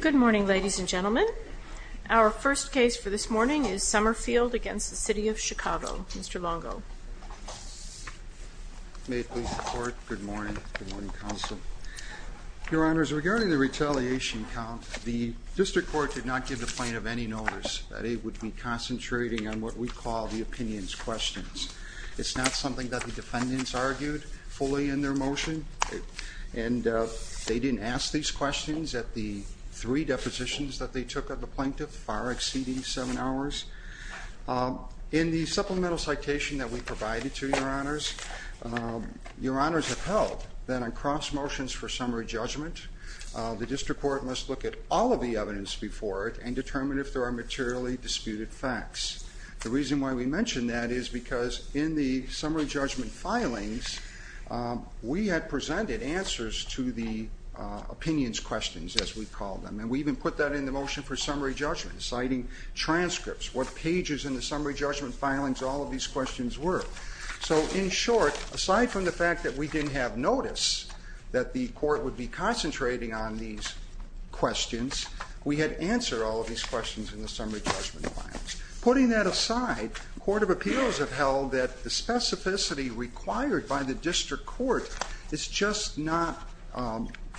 Good morning, ladies and gentlemen. Our first case for this morning is Sommerfield v. City of Chicago. Mr. Longo. May it please the Court. Good morning. Good morning, Counsel. Your Honors, regarding the retaliation count, the District Court did not give the plaintiff any notice that it would be concentrating on what we call the opinions questions. It's not something that the defendants argued fully in their motion. And they didn't ask these questions at the three depositions that they took of the plaintiff, far exceeding seven hours. In the supplemental citation that we provided to Your Honors, Your Honors have held that on cross motions for summary judgment, the District Court must look at all of the evidence before it and determine if there are materially disputed facts. The reason why we mention that is because in the summary judgment filings, we had presented answers to the opinions questions, as we call them. And we even put that in the motion for summary judgment, citing transcripts, what pages in the summary judgment filings all of these questions were. So, in short, aside from the fact that we didn't have notice that the court would be concentrating on these questions, we had answered all of these questions in the summary judgment filings. Putting that aside, court of appeals have held that the specificity required by the District Court is just not,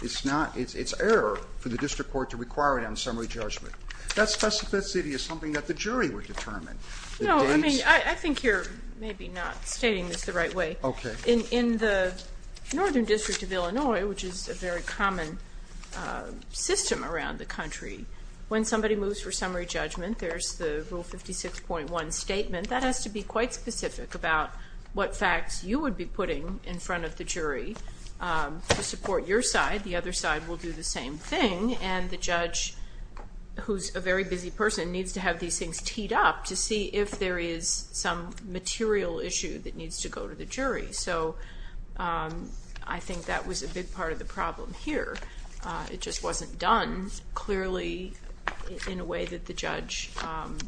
it's not, it's error for the District Court to require it on summary judgment. That specificity is something that the jury would determine. The dates. No, I mean, I think you're maybe not stating this the right way. Okay. In the Northern District of Illinois, which is a very common system around the country, when somebody moves for summary judgment, there's the Rule 56.1 statement. That has to be quite specific about what facts you would be putting in front of the jury to support your side. The other side will do the same thing, and the judge, who's a very busy person, needs to have these things teed up to see if there is some material issue that needs to go to the jury. So I think that was a big part of the problem here. It just wasn't done. Clearly, in a way that the judge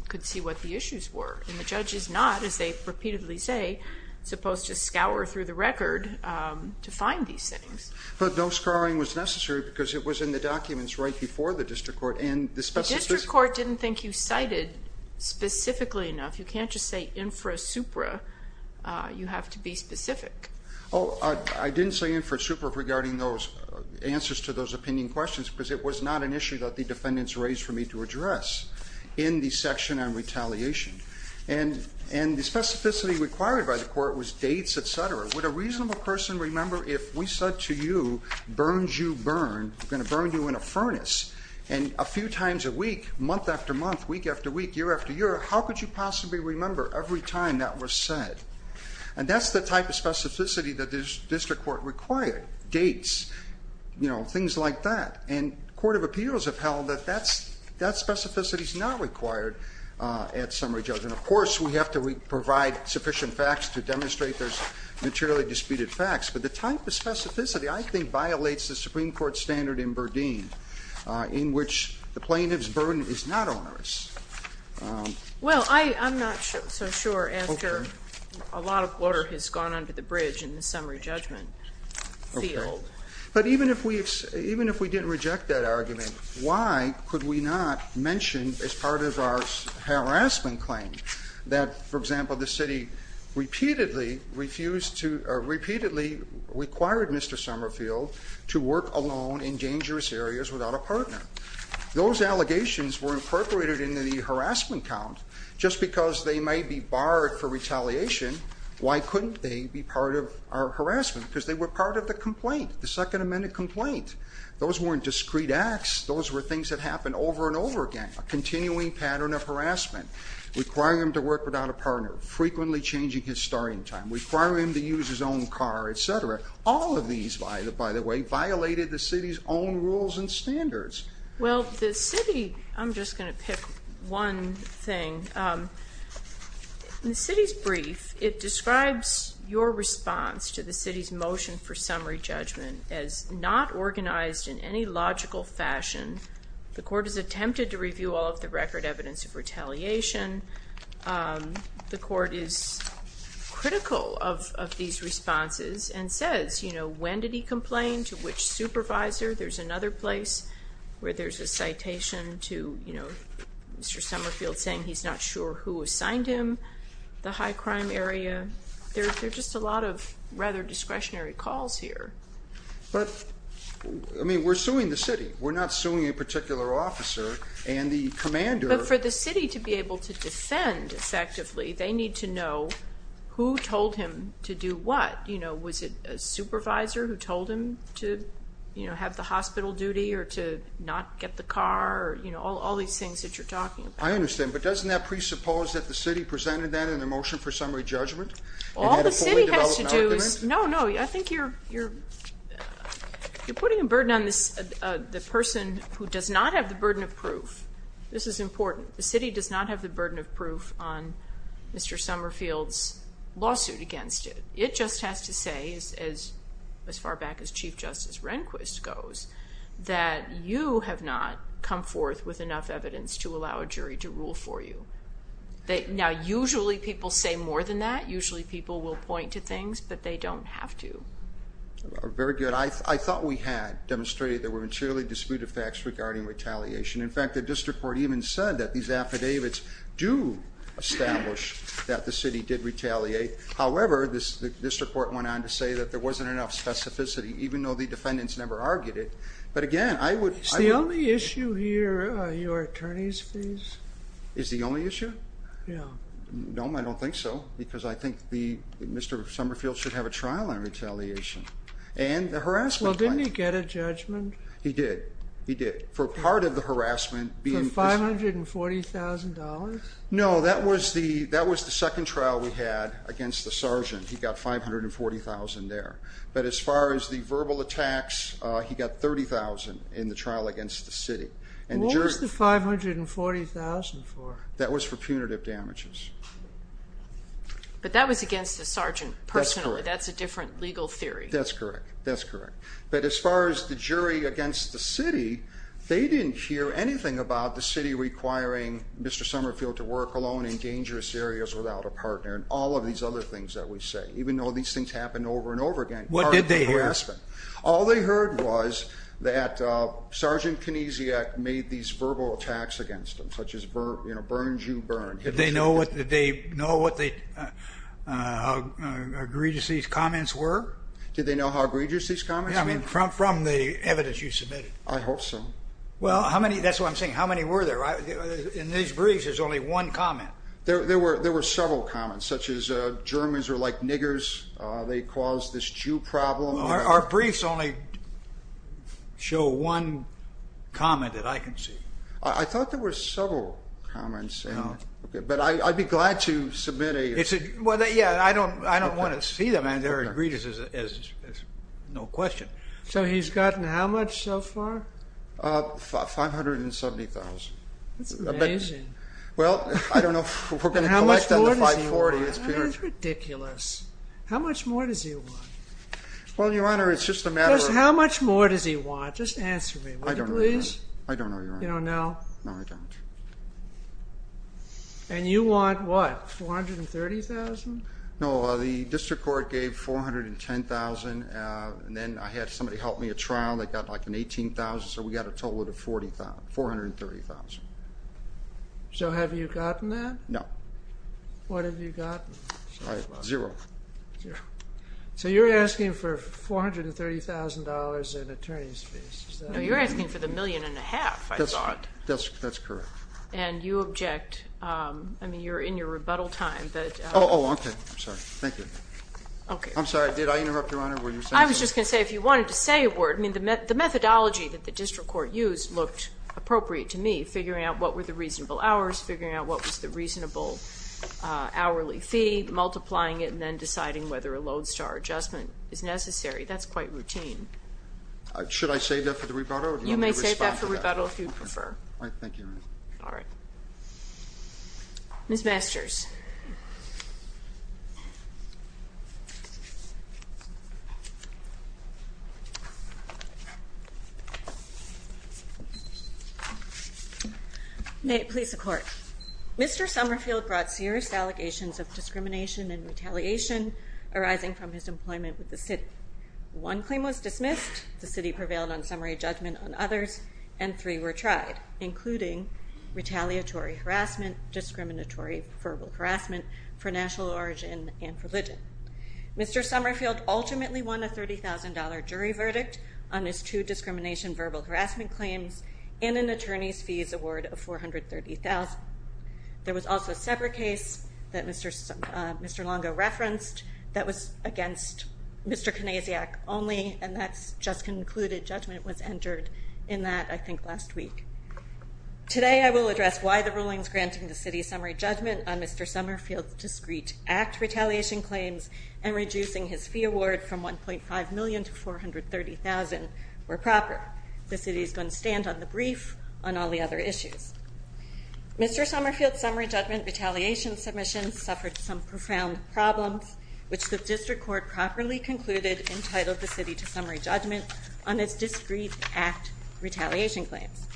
could see what the issues were. And the judge is not, as they repeatedly say, supposed to scour through the record to find these things. But no scouring was necessary because it was in the documents right before the District Court. The District Court didn't think you cited specifically enough. You can't just say infrasupra. You have to be specific. I didn't say infrasupra regarding those answers to those opinion questions because it was not an issue that the defendants raised for me to address in the section on retaliation. And the specificity required by the court was dates, etc. Would a reasonable person remember if we said to you, burns you, burn, we're going to burn you in a furnace, and a few times a week, month after month, week after week, year after year, how could you possibly remember every time that was said? And that's the type of specificity that the District Court required. Dates, things like that. And court of appeals have held that that specificity is not required at summary judgment. Of course, we have to provide sufficient facts to demonstrate there's materially disputed facts. But the type of specificity, I think, violates the Supreme Court standard in Burdine in which the plaintiff's burden is not onerous. Well, I'm not so sure after a lot of water has gone under the bridge in the summary judgment field. Okay. But even if we didn't reject that argument, why could we not mention as part of our harassment claim that, for example, the city repeatedly refused to or repeatedly required Mr. Summerfield to work alone in dangerous areas without a partner? Those allegations were incorporated into the harassment count. Just because they may be barred for retaliation, why couldn't they be part of our harassment? Because they were part of the complaint, the Second Amendment complaint. Those weren't discrete acts. Those were things that happened over and over again, a continuing pattern of harassment. Requiring him to work without a partner, frequently changing his starting time, requiring him to use his own car, etc. All of these, by the way, violated the city's own rules and standards. Well, the city, I'm just going to pick one thing. The city's brief, it describes your response to the city's motion for summary judgment as not organized in any logical fashion. The court has attempted to review all of the record evidence of retaliation. The court is critical of these responses and says when did he complain, to which supervisor. There's another place where there's a citation to Mr. Summerfield saying he's not sure who assigned him the high crime area. There are just a lot of rather discretionary calls here. But, I mean, we're suing the city. We're not suing a particular officer and the commander. But for the city to be able to defend effectively, they need to know who told him to do what. Was it a supervisor who told him to have the hospital duty or to not get the car, all these things that you're talking about. I understand, but doesn't that presuppose that the city presented that in the motion for summary judgment? All the city has to do is, no, no, I think you're putting a burden on the person who does not have the burden of proof. This is important. The city does not have the burden of proof on Mr. Summerfield's lawsuit against it. It just has to say, as far back as Chief Justice Rehnquist goes, that you have not come forth with enough evidence to allow a jury to rule for you. Now, usually people say more than that. Usually people will point to things, but they don't have to. Very good. I thought we had demonstrated there were materially disputed facts regarding retaliation. In fact, the district court even said that these affidavits do establish that the city did retaliate. However, the district court went on to say that there wasn't enough specificity, even though the defendants never argued it. But again, I would— Is the only issue here your attorney's fees? Is the only issue? Yeah. No, I don't think so, because I think Mr. Summerfield should have a trial on retaliation and the harassment claim. Well, didn't he get a judgment? He did. He did. For part of the harassment being— For $540,000? No, that was the second trial we had against the sergeant. He got $540,000 there. But as far as the verbal attacks, he got $30,000 in the trial against the city. What was the $540,000 for? That was for punitive damages. But that was against the sergeant personally. That's a different legal theory. That's correct. That's correct. But as far as the jury against the city, they didn't hear anything about the city requiring Mr. Summerfield to work alone in dangerous areas without a partner and all of these other things that we say, even though these things happened over and over again. What did they hear? All they heard was that Sergeant Kinesiak made these verbal attacks against him, such as, you know, burn, Jew, burn. Did they know how egregious these comments were? Did they know how egregious these comments were? Yeah, I mean, from the evidence you submitted. I hope so. Well, how many? That's what I'm saying. How many were there? In these briefs, there's only one comment. There were several comments, such as Germans are like niggers. They cause this Jew problem. Our briefs only show one comment that I can see. I thought there were several comments. But I'd be glad to submit a… Well, yeah, I don't want to see them. They're egregious, no question. So he's gotten how much so far? 570,000. That's amazing. Well, I don't know if we're going to collect them to 540,000. That's ridiculous. How much more does he want? Well, Your Honor, it's just a matter of… How much more does he want? Just answer me, will you please? I don't know, Your Honor. You don't know? No, I don't. And you want what? 430,000? No, the district court gave 410,000, and then I had somebody help me at trial that got like an 18,000, so we got a total of 430,000. So have you gotten that? No. What have you gotten? Zero. So you're asking for $430,000 in attorney's fees. No, you're asking for the million and a half, I thought. That's correct. And you object. I mean, you're in your rebuttal time. Oh, okay. I'm sorry. Thank you. I'm sorry. Did I interrupt, Your Honor? I was just going to say if you wanted to say a word. I mean, the methodology that the district court used looked appropriate to me, figuring out what were the reasonable hours, figuring out what was the reasonable hourly fee, multiplying it, and then deciding whether a Lodestar adjustment is necessary. That's quite routine. Should I save that for the rebuttal? You may save that for rebuttal if you prefer. All right. Thank you, Your Honor. All right. Ms. Masters. May it please the Court. Mr. Summerfield brought serious allegations of discrimination and retaliation arising from his employment with the city. One claim was dismissed. The city prevailed on summary judgment on others, and three were tried, including retaliatory harassment, discriminatory verbal harassment for national origin and religion. Mr. Summerfield ultimately won a $30,000 jury verdict on his two discrimination verbal harassment claims and an attorney's fees award of $430,000. There was also a separate case that Mr. Longo referenced that was against Mr. Kanasiak only, and that's just concluded. Judgment was entered in that, I think, last week. Today I will address why the rulings granting the city summary judgment on Mr. Summerfield's discreet act retaliation claims and reducing his fee award from $1.5 million to $430,000 were proper. The city is going to stand on the brief on all the other issues. Mr. Summerfield's summary judgment retaliation submission suffered some entitled the city to summary judgment on its discreet act retaliation claims.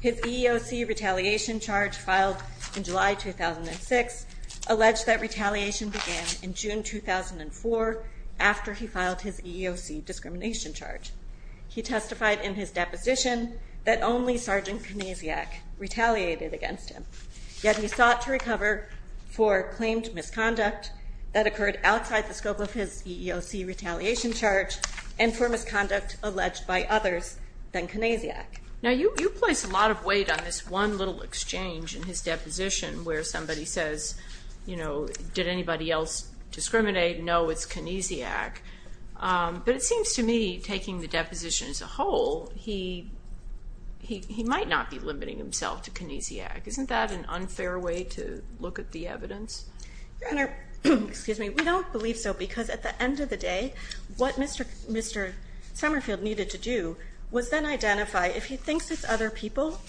His EEOC retaliation charge filed in July 2006 alleged that retaliation began in June 2004 after he filed his EEOC discrimination charge. He testified in his deposition that only Sergeant Kanasiak retaliated against him, yet he sought to recover for claimed misconduct that occurred outside the scope of his EEOC retaliation charge and for misconduct alleged by others than Kanasiak. Now, you place a lot of weight on this one little exchange in his deposition where somebody says, you know, did anybody else discriminate? No, it's Kanasiak. But it seems to me, taking the deposition as a whole, he might not be limiting himself to Kanasiak. Isn't that an unfair way to look at the evidence? Your Honor, we don't believe so because at the end of the day, what Mr. Summerfield needed to do was then identify, if he thinks it's other people,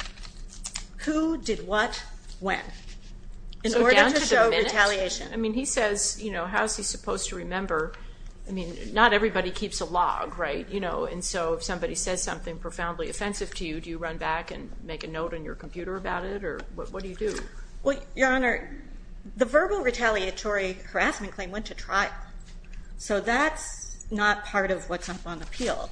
who did what when in order to show retaliation. I mean, he says, you know, how is he supposed to remember? I mean, not everybody keeps a log, right? You know, and so if somebody says something profoundly offensive to you, do you run back and make a note on your computer about it or what do you do? Well, Your Honor, the verbal retaliatory harassment claim went to trial. So that's not part of what's up on appeal.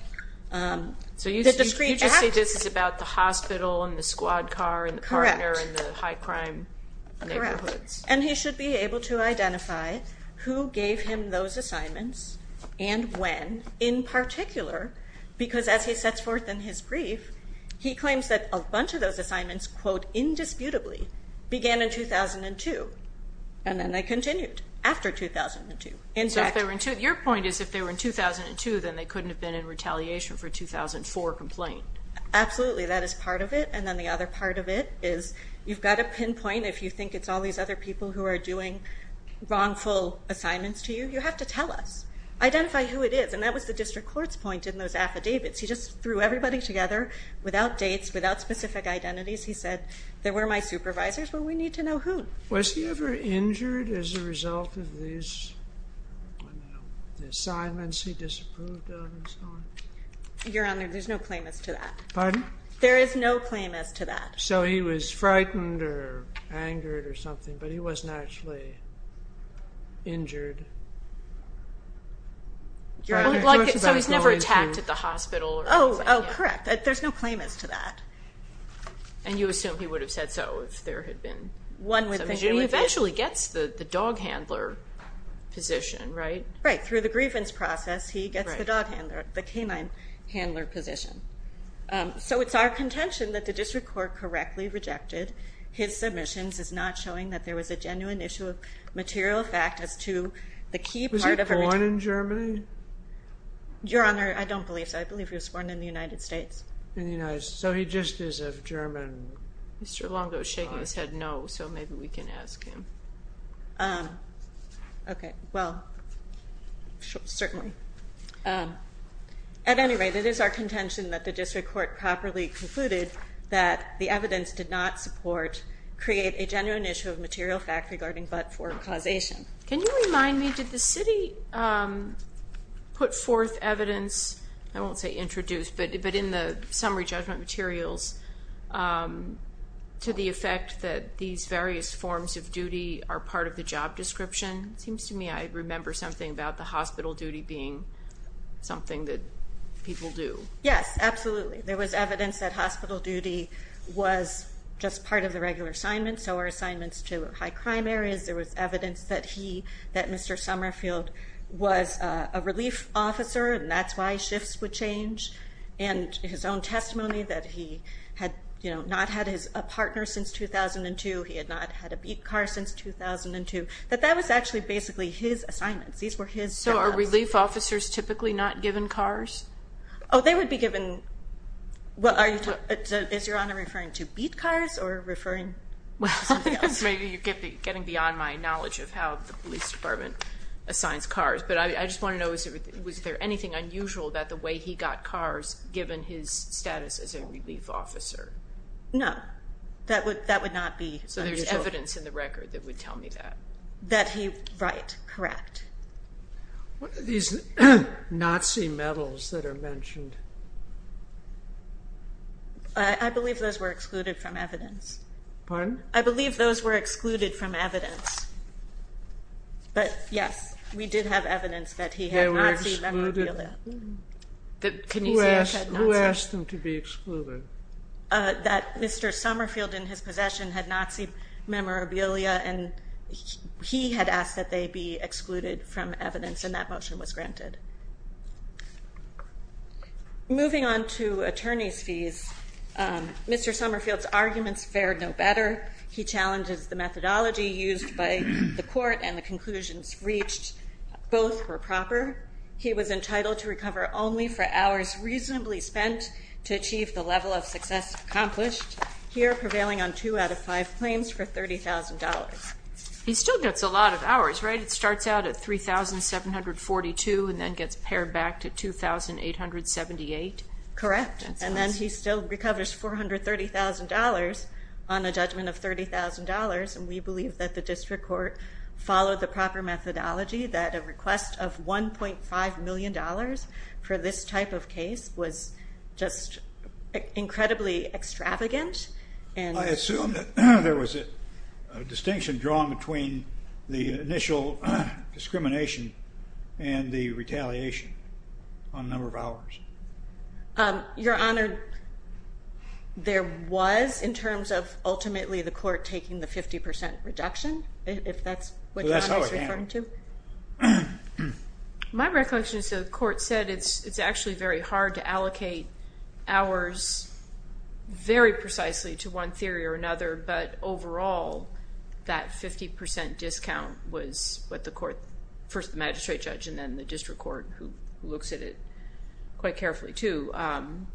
So you just say this is about the hospital and the squad car and the partner and the high crime neighborhoods. Correct. And he should be able to identify who gave him those assignments and when, in particular, because as he sets forth in his brief, he claims that a bunch of those assignments, quote, indisputably, began in 2002. And then they continued after 2002. Your point is if they were in 2002, then they couldn't have been in retaliation for a 2004 complaint. Absolutely. That is part of it. And then the other part of it is you've got to pinpoint if you think it's all these other people who are doing wrongful assignments to you, you have to tell us. Identify who it is. And that was the district court's point in those affidavits. He just threw everybody together without dates, without specific identities. He said, they were my supervisors, but we need to know who. Was he ever injured as a result of these assignments he disapproved of and so on? Your Honor, there's no claim as to that. Pardon? There is no claim as to that. So he was frightened or angered or something, but he wasn't actually injured. So he's never attacked at the hospital? Oh, correct. There's no claim as to that. And you assume he would have said so if there had been some injury? He eventually gets the dog handler position, right? Right. Through the grievance process, he gets the dog handler, the canine handler position. So it's our contention that the district court correctly rejected his submissions, is not showing that there was a genuine issue of material fact as to the key part of a return. Was he born in Germany? Your Honor, I don't believe so. I believe he was born in the United States. In the United States. So he just is of German origin. Mr. Longo is shaking his head no, so maybe we can ask him. Okay. Well, certainly. At any rate, it is our contention that the district court properly concluded that the evidence did not support, create a genuine issue of material fact regarding but-for causation. Can you remind me, did the city put forth evidence, I won't say introduce, but in the summary judgment materials to the effect that these various forms of duty are part of the job description? It seems to me I remember something about the hospital duty being something that people do. Yes, absolutely. There was evidence that hospital duty was just part of the regular assignments, so were assignments to high crime areas. There was evidence that he, that Mr. Summerfield was a relief officer, and that's why shifts would change. And his own testimony that he had not had a partner since 2002, he had not had a beat car since 2002, that that was actually basically his assignments. These were his jobs. So are relief officers typically not given cars? Oh, they would be given, is Your Honor referring to beat cars or referring to something else? Maybe you're getting beyond my knowledge of how the police department assigns cars, but I just want to know was there anything unusual about the way he got cars given his status as a relief officer? No, that would not be. So there's evidence in the record that would tell me that. That he, right, correct. What are these Nazi medals that are mentioned? I believe those were excluded from evidence. Pardon? I believe those were excluded from evidence. But, yes, we did have evidence that he had Nazi memorabilia. Who asked them to be excluded? That Mr. Summerfield in his possession had Nazi memorabilia, and he had asked that they be excluded from evidence, and that motion was granted. Moving on to attorney's fees, Mr. Summerfield's arguments fared no better. He challenges the methodology used by the court and the conclusions reached. Both were proper. He was entitled to recover only for hours reasonably spent to achieve the level of success accomplished, here prevailing on two out of five claims for $30,000. He still gets a lot of hours, right? It starts out at $3,742 and then gets pared back to $2,878. Correct, and then he still recovers $430,000 on a judgment of $30,000, and we believe that the district court followed the proper methodology that a request of $1.5 million for this type of case was just incredibly extravagant. I assume that there was a distinction drawn between the initial discrimination and the retaliation on a number of hours. Your Honor, there was in terms of ultimately the court taking the 50% reduction, if that's what your Honor is referring to. My recollection is the court said it's actually very hard to allocate hours very precisely to one theory or another, but overall that 50% discount was what the court, first the magistrate judge and then the district court who looks at it quite carefully too,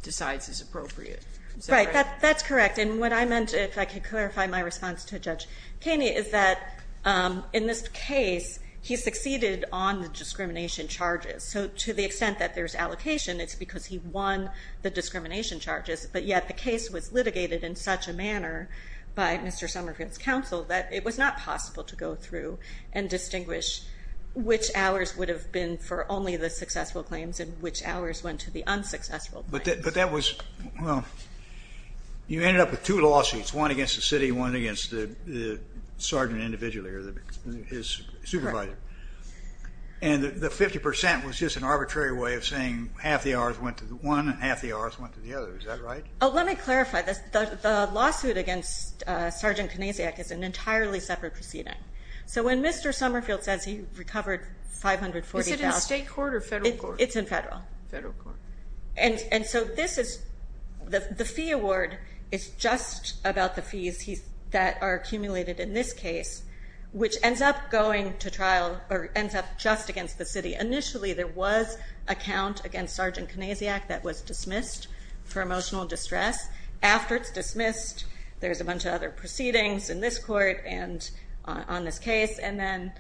decides is appropriate. Right, that's correct, and what I meant, if I could clarify my response to Judge Kaney, is that in this case he succeeded on the discrimination charges. So to the extent that there's allocation, it's because he won the discrimination charges, but yet the case was litigated in such a manner by Mr. Somerville's counsel that it was not possible to go through and distinguish which hours would have been for only the successful claims and which hours went to the unsuccessful claims. But that was, well, you ended up with two lawsuits, one against the city, one against the sergeant individually or his supervisor. Correct. And the 50% was just an arbitrary way of saying half the hours went to one and half the hours went to the other, is that right? Oh, let me clarify this. The lawsuit against Sergeant Kanasiak is an entirely separate proceeding. So when Mr. Somerville says he recovered $540,000. Is it in state court or federal court? It's in federal. Federal court. And so this is, the fee award is just about the fees that are accumulated in this case, which ends up going to trial or ends up just against the city. Initially there was a count against Sergeant Kanasiak that was dismissed for emotional distress. After it's dismissed, there's a bunch of other proceedings in this court and on this case, and then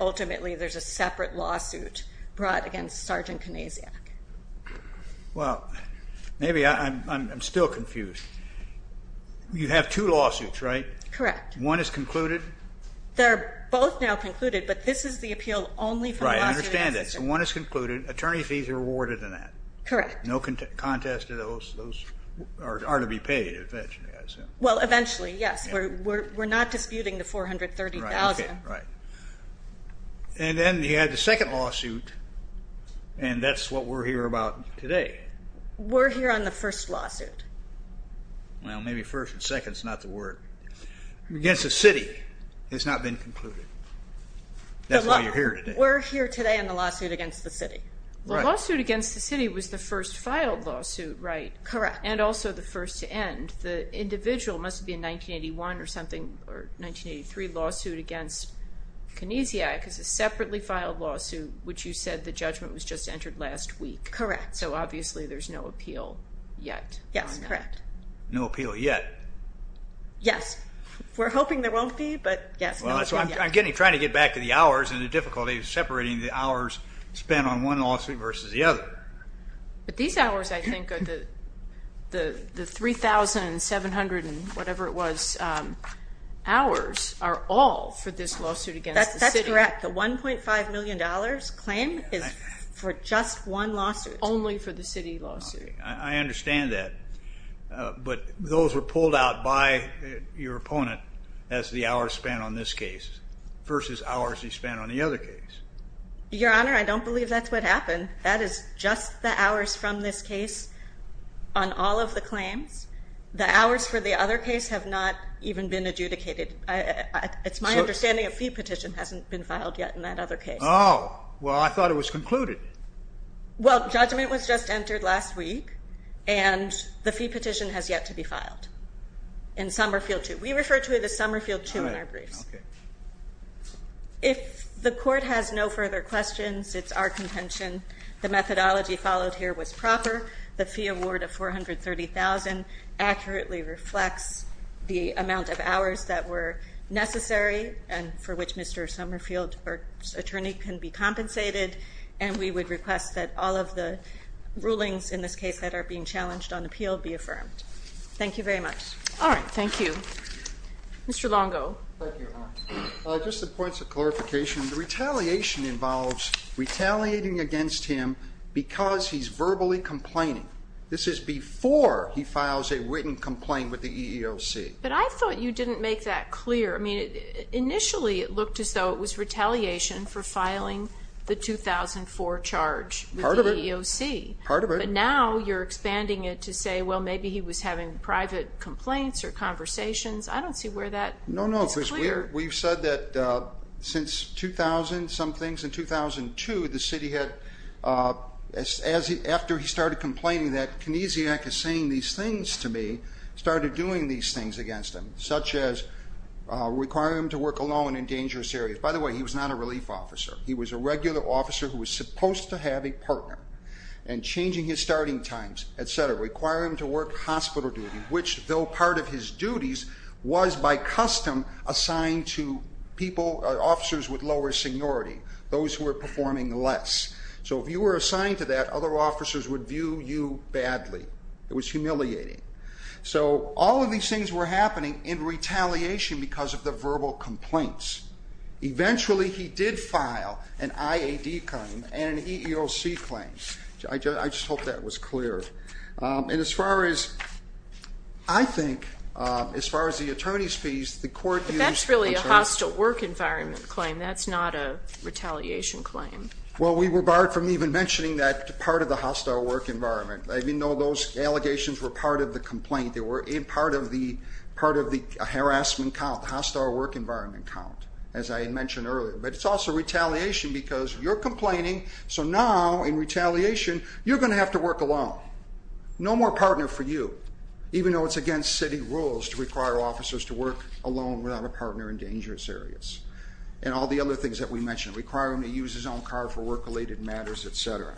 ultimately there's a separate lawsuit brought against Sergeant Kanasiak. Well, maybe I'm still confused. You have two lawsuits, right? Correct. One is concluded? They're both now concluded, but this is the appeal only for the lawsuit. Right, I understand that. So one is concluded, attorney fees are awarded in that. Correct. No contest to those are to be paid eventually, I assume. Well, eventually, yes. We're not disputing the $430,000. Right, okay, right. And then you had the second lawsuit, and that's what we're here about today. We're here on the first lawsuit. Well, maybe first and second is not the word. Against the city, it's not been concluded. That's why you're here today. We're here today on the lawsuit against the city. The lawsuit against the city was the first filed lawsuit, right? Correct. And also the first to end. The individual must have been 1981 or something, or 1983, lawsuit against Kanasiak as a separately filed lawsuit, which you said the judgment was just entered last week. Correct. So obviously there's no appeal yet. Yes, correct. No appeal yet. Yes. We're hoping there won't be, but yes. I'm trying to get back to the hours and the difficulty of separating the hours spent on one lawsuit versus the other. But these hours, I think, are the 3,700 and whatever it was, hours are all for this lawsuit against the city. That's correct. The $1.5 million claim is for just one lawsuit. Only for the city lawsuit. I understand that. But those were pulled out by your opponent as the hours spent on this case versus hours he spent on the other case. Your Honor, I don't believe that's what happened. That is just the hours from this case on all of the claims. The hours for the other case have not even been adjudicated. It's my understanding a fee petition hasn't been filed yet in that other case. Oh, well, I thought it was concluded. Well, judgment was just entered last week. And the fee petition has yet to be filed in Somerfield 2. We refer to it as Somerfield 2 in our briefs. All right. Okay. If the court has no further questions, it's our contention the methodology followed here was proper. The fee award of $430,000 accurately reflects the amount of hours that were necessary and for which Mr. Somerfield's attorney can be compensated. And we would request that all of the rulings in this case that are being challenged on appeal be affirmed. Thank you very much. All right. Thank you. Mr. Longo. Thank you, Your Honor. Just some points of clarification. The retaliation involves retaliating against him because he's verbally complaining. This is before he files a written complaint with the EEOC. But I thought you didn't make that clear. I mean, initially it looked as though it was retaliation for filing the 2004 charge with the EEOC. Part of it. Part of it. But now you're expanding it to say, well, maybe he was having private complaints or conversations. I don't see where that is clear. No, no. We've said that since 2000 some things. In 2002 the city had, after he started complaining that Kinesiak is saying these things to me, started doing these things against him, such as requiring him to work alone in dangerous areas. By the way, he was not a relief officer. He was a regular officer who was supposed to have a partner. And changing his starting times, et cetera, requiring him to work hospital duty, which though part of his duties was by custom assigned to people, officers with lower seniority, those who were performing less. So if you were assigned to that, other officers would view you badly. It was humiliating. So all of these things were happening in retaliation because of the verbal complaints. Eventually he did file an IAD claim and an EEOC claim. I just hope that was clear. And as far as I think, as far as the attorney's fees, the court used. But that's really a hostile work environment claim. That's not a retaliation claim. Well, we were barred from even mentioning that part of the hostile work environment. Even though those allegations were part of the complaint, they were part of the harassment count, the hostile work environment count, as I had mentioned earlier. But it's also retaliation because you're complaining, so now in retaliation you're going to have to work alone. No more partner for you, even though it's against city rules to require officers to work alone without a partner in dangerous areas. And all the other things that we mentioned, requiring him to use his own car for work-related matters, et cetera.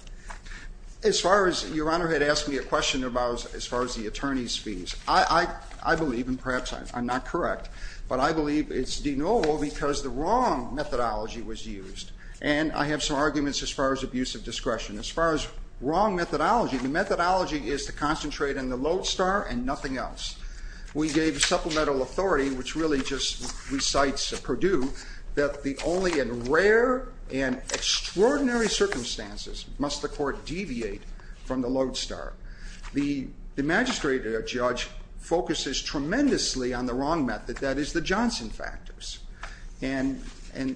As far as your Honor had asked me a question about as far as the attorney's fees, I believe, and perhaps I'm not correct, but I believe it's denial because the wrong methodology was used. And I have some arguments as far as abuse of discretion. As far as wrong methodology, the methodology is to concentrate on the lodestar and nothing else. We gave supplemental authority, which really just recites Purdue, that the only and rare and extraordinary circumstances, must the court deviate from the lodestar. The magistrate or judge focuses tremendously on the wrong method, that is the Johnson factors. And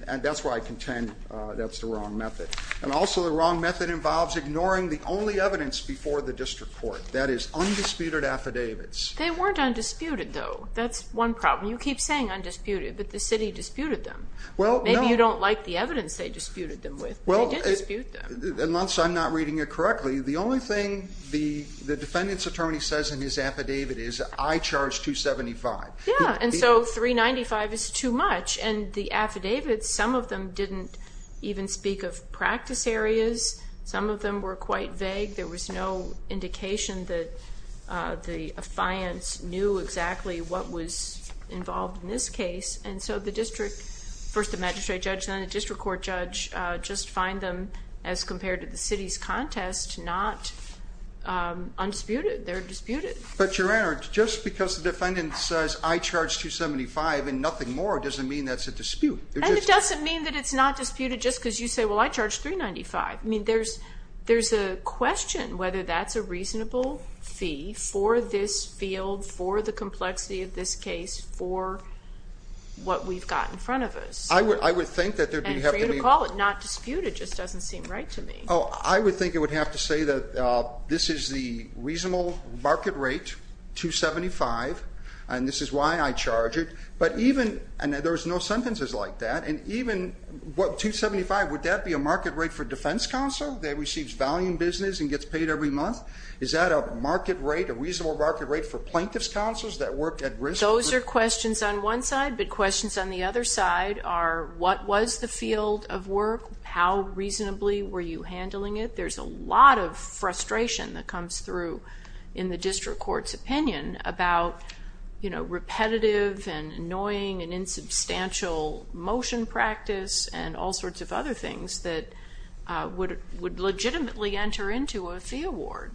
that's why I contend that's the wrong method. And also the wrong method involves ignoring the only evidence before the district court, that is undisputed affidavits. They weren't undisputed, though. That's one problem. You keep saying undisputed, but the city disputed them. Maybe you don't like the evidence they disputed them with, but they did dispute them. Well, unless I'm not reading it correctly, the only thing the defendant's attorney says in his affidavit is, I charge $275. Yeah, and so $395 is too much. And the affidavits, some of them didn't even speak of practice areas. Some of them were quite vague. There was no indication that the affiance knew exactly what was involved in this case. And so the district, first the magistrate judge, then the district court judge just find them, as compared to the city's contest, not undisputed. They're disputed. But, Your Honor, just because the defendant says, I charge $275 and nothing more, doesn't mean that's a dispute. And it doesn't mean that it's not disputed just because you say, well, I charge $395. I mean, there's a question whether that's a reasonable fee for this field, for the complexity of this case, for what we've got in front of us. I would think that there would have to be. And for you to call it not disputed just doesn't seem right to me. Oh, I would think it would have to say that this is the reasonable market rate, $275, and this is why I charge it. And there's no sentences like that. And even $275, would that be a market rate for defense counsel that receives value in business and gets paid every month? Is that a market rate, a reasonable market rate for plaintiff's counsels that work at risk? Those are questions on one side, but questions on the other side are what was the field of work? How reasonably were you handling it? There's a lot of frustration that comes through in the district court's opinion about repetitive and annoying and insubstantial motion practice and all sorts of other things that would legitimately enter into a fee award.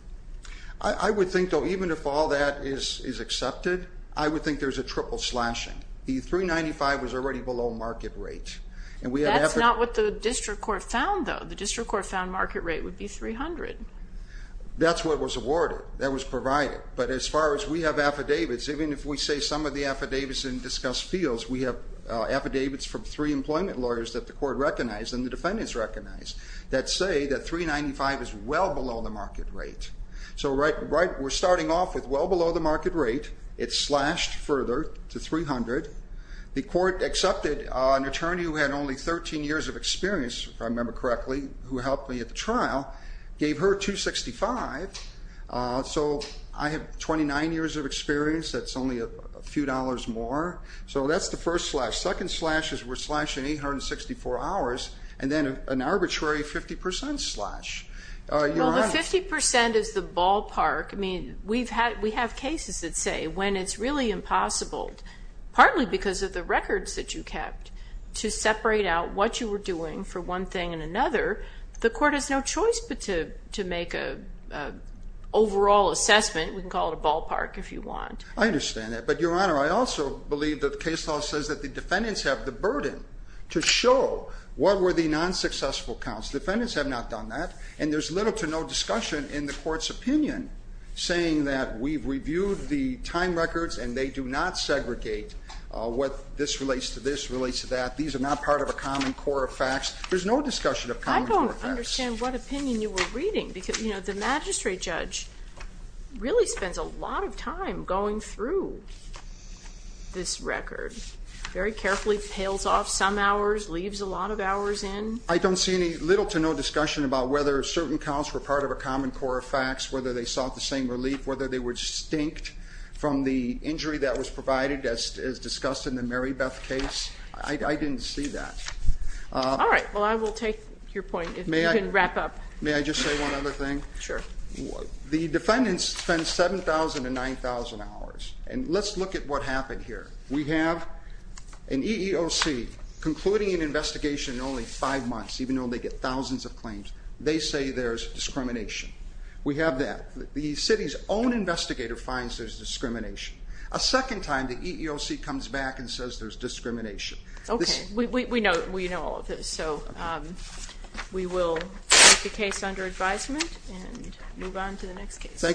I would think, though, even if all that is accepted, I would think there's a triple slashing. The $395 was already below market rate. That's not what the district court found, though. The district court found market rate would be $300. That's what was awarded. That was provided. But as far as we have affidavits, even if we say some of the affidavits didn't discuss fields, we have affidavits from three employment lawyers that the court recognized and the defendants recognized that say that $395 is well below the market rate. So we're starting off with well below the market rate. It's slashed further to $300. The court accepted an attorney who had only 13 years of experience, if I remember correctly, who helped me at the trial, gave her $265. So I have 29 years of experience. That's only a few dollars more. So that's the first slash. Second slash is we're slashing $864. And then an arbitrary 50% slash. Well, the 50% is the ballpark. I mean, we have cases that say when it's really impossible, partly because of the records that you kept, to separate out what you were doing for one thing and another, the court has no choice but to make an overall assessment. We can call it a ballpark if you want. I understand that. But, Your Honor, I also believe that the case law says that the defendants have the burden to show what were the non-successful counts. Defendants have not done that. And there's little to no discussion in the court's opinion saying that we've reviewed the time records and they do not segregate what this relates to this relates to that. These are not part of a common core of facts. There's no discussion of common core facts. I don't understand what opinion you were reading. Because, you know, the magistrate judge really spends a lot of time going through this record. Very carefully pales off some hours, leaves a lot of hours in. I don't see any little to no discussion about whether certain counts were part of a common core of facts, whether they sought the same relief, whether they were distinct from the injury that was provided, as discussed in the Mary Beth case. I didn't see that. All right. Well, I will take your point if you can wrap up. May I just say one other thing? Sure. The defendants spend 7,000 to 9,000 hours. And let's look at what happened here. We have an EEOC concluding an investigation in only five months, even though they get thousands of claims. They say there's discrimination. We have that. The city's own investigator finds there's discrimination. A second time the EEOC comes back and says there's discrimination. Okay. We know all of this. So we will take the case under advisement and move on to the next case. Thank you.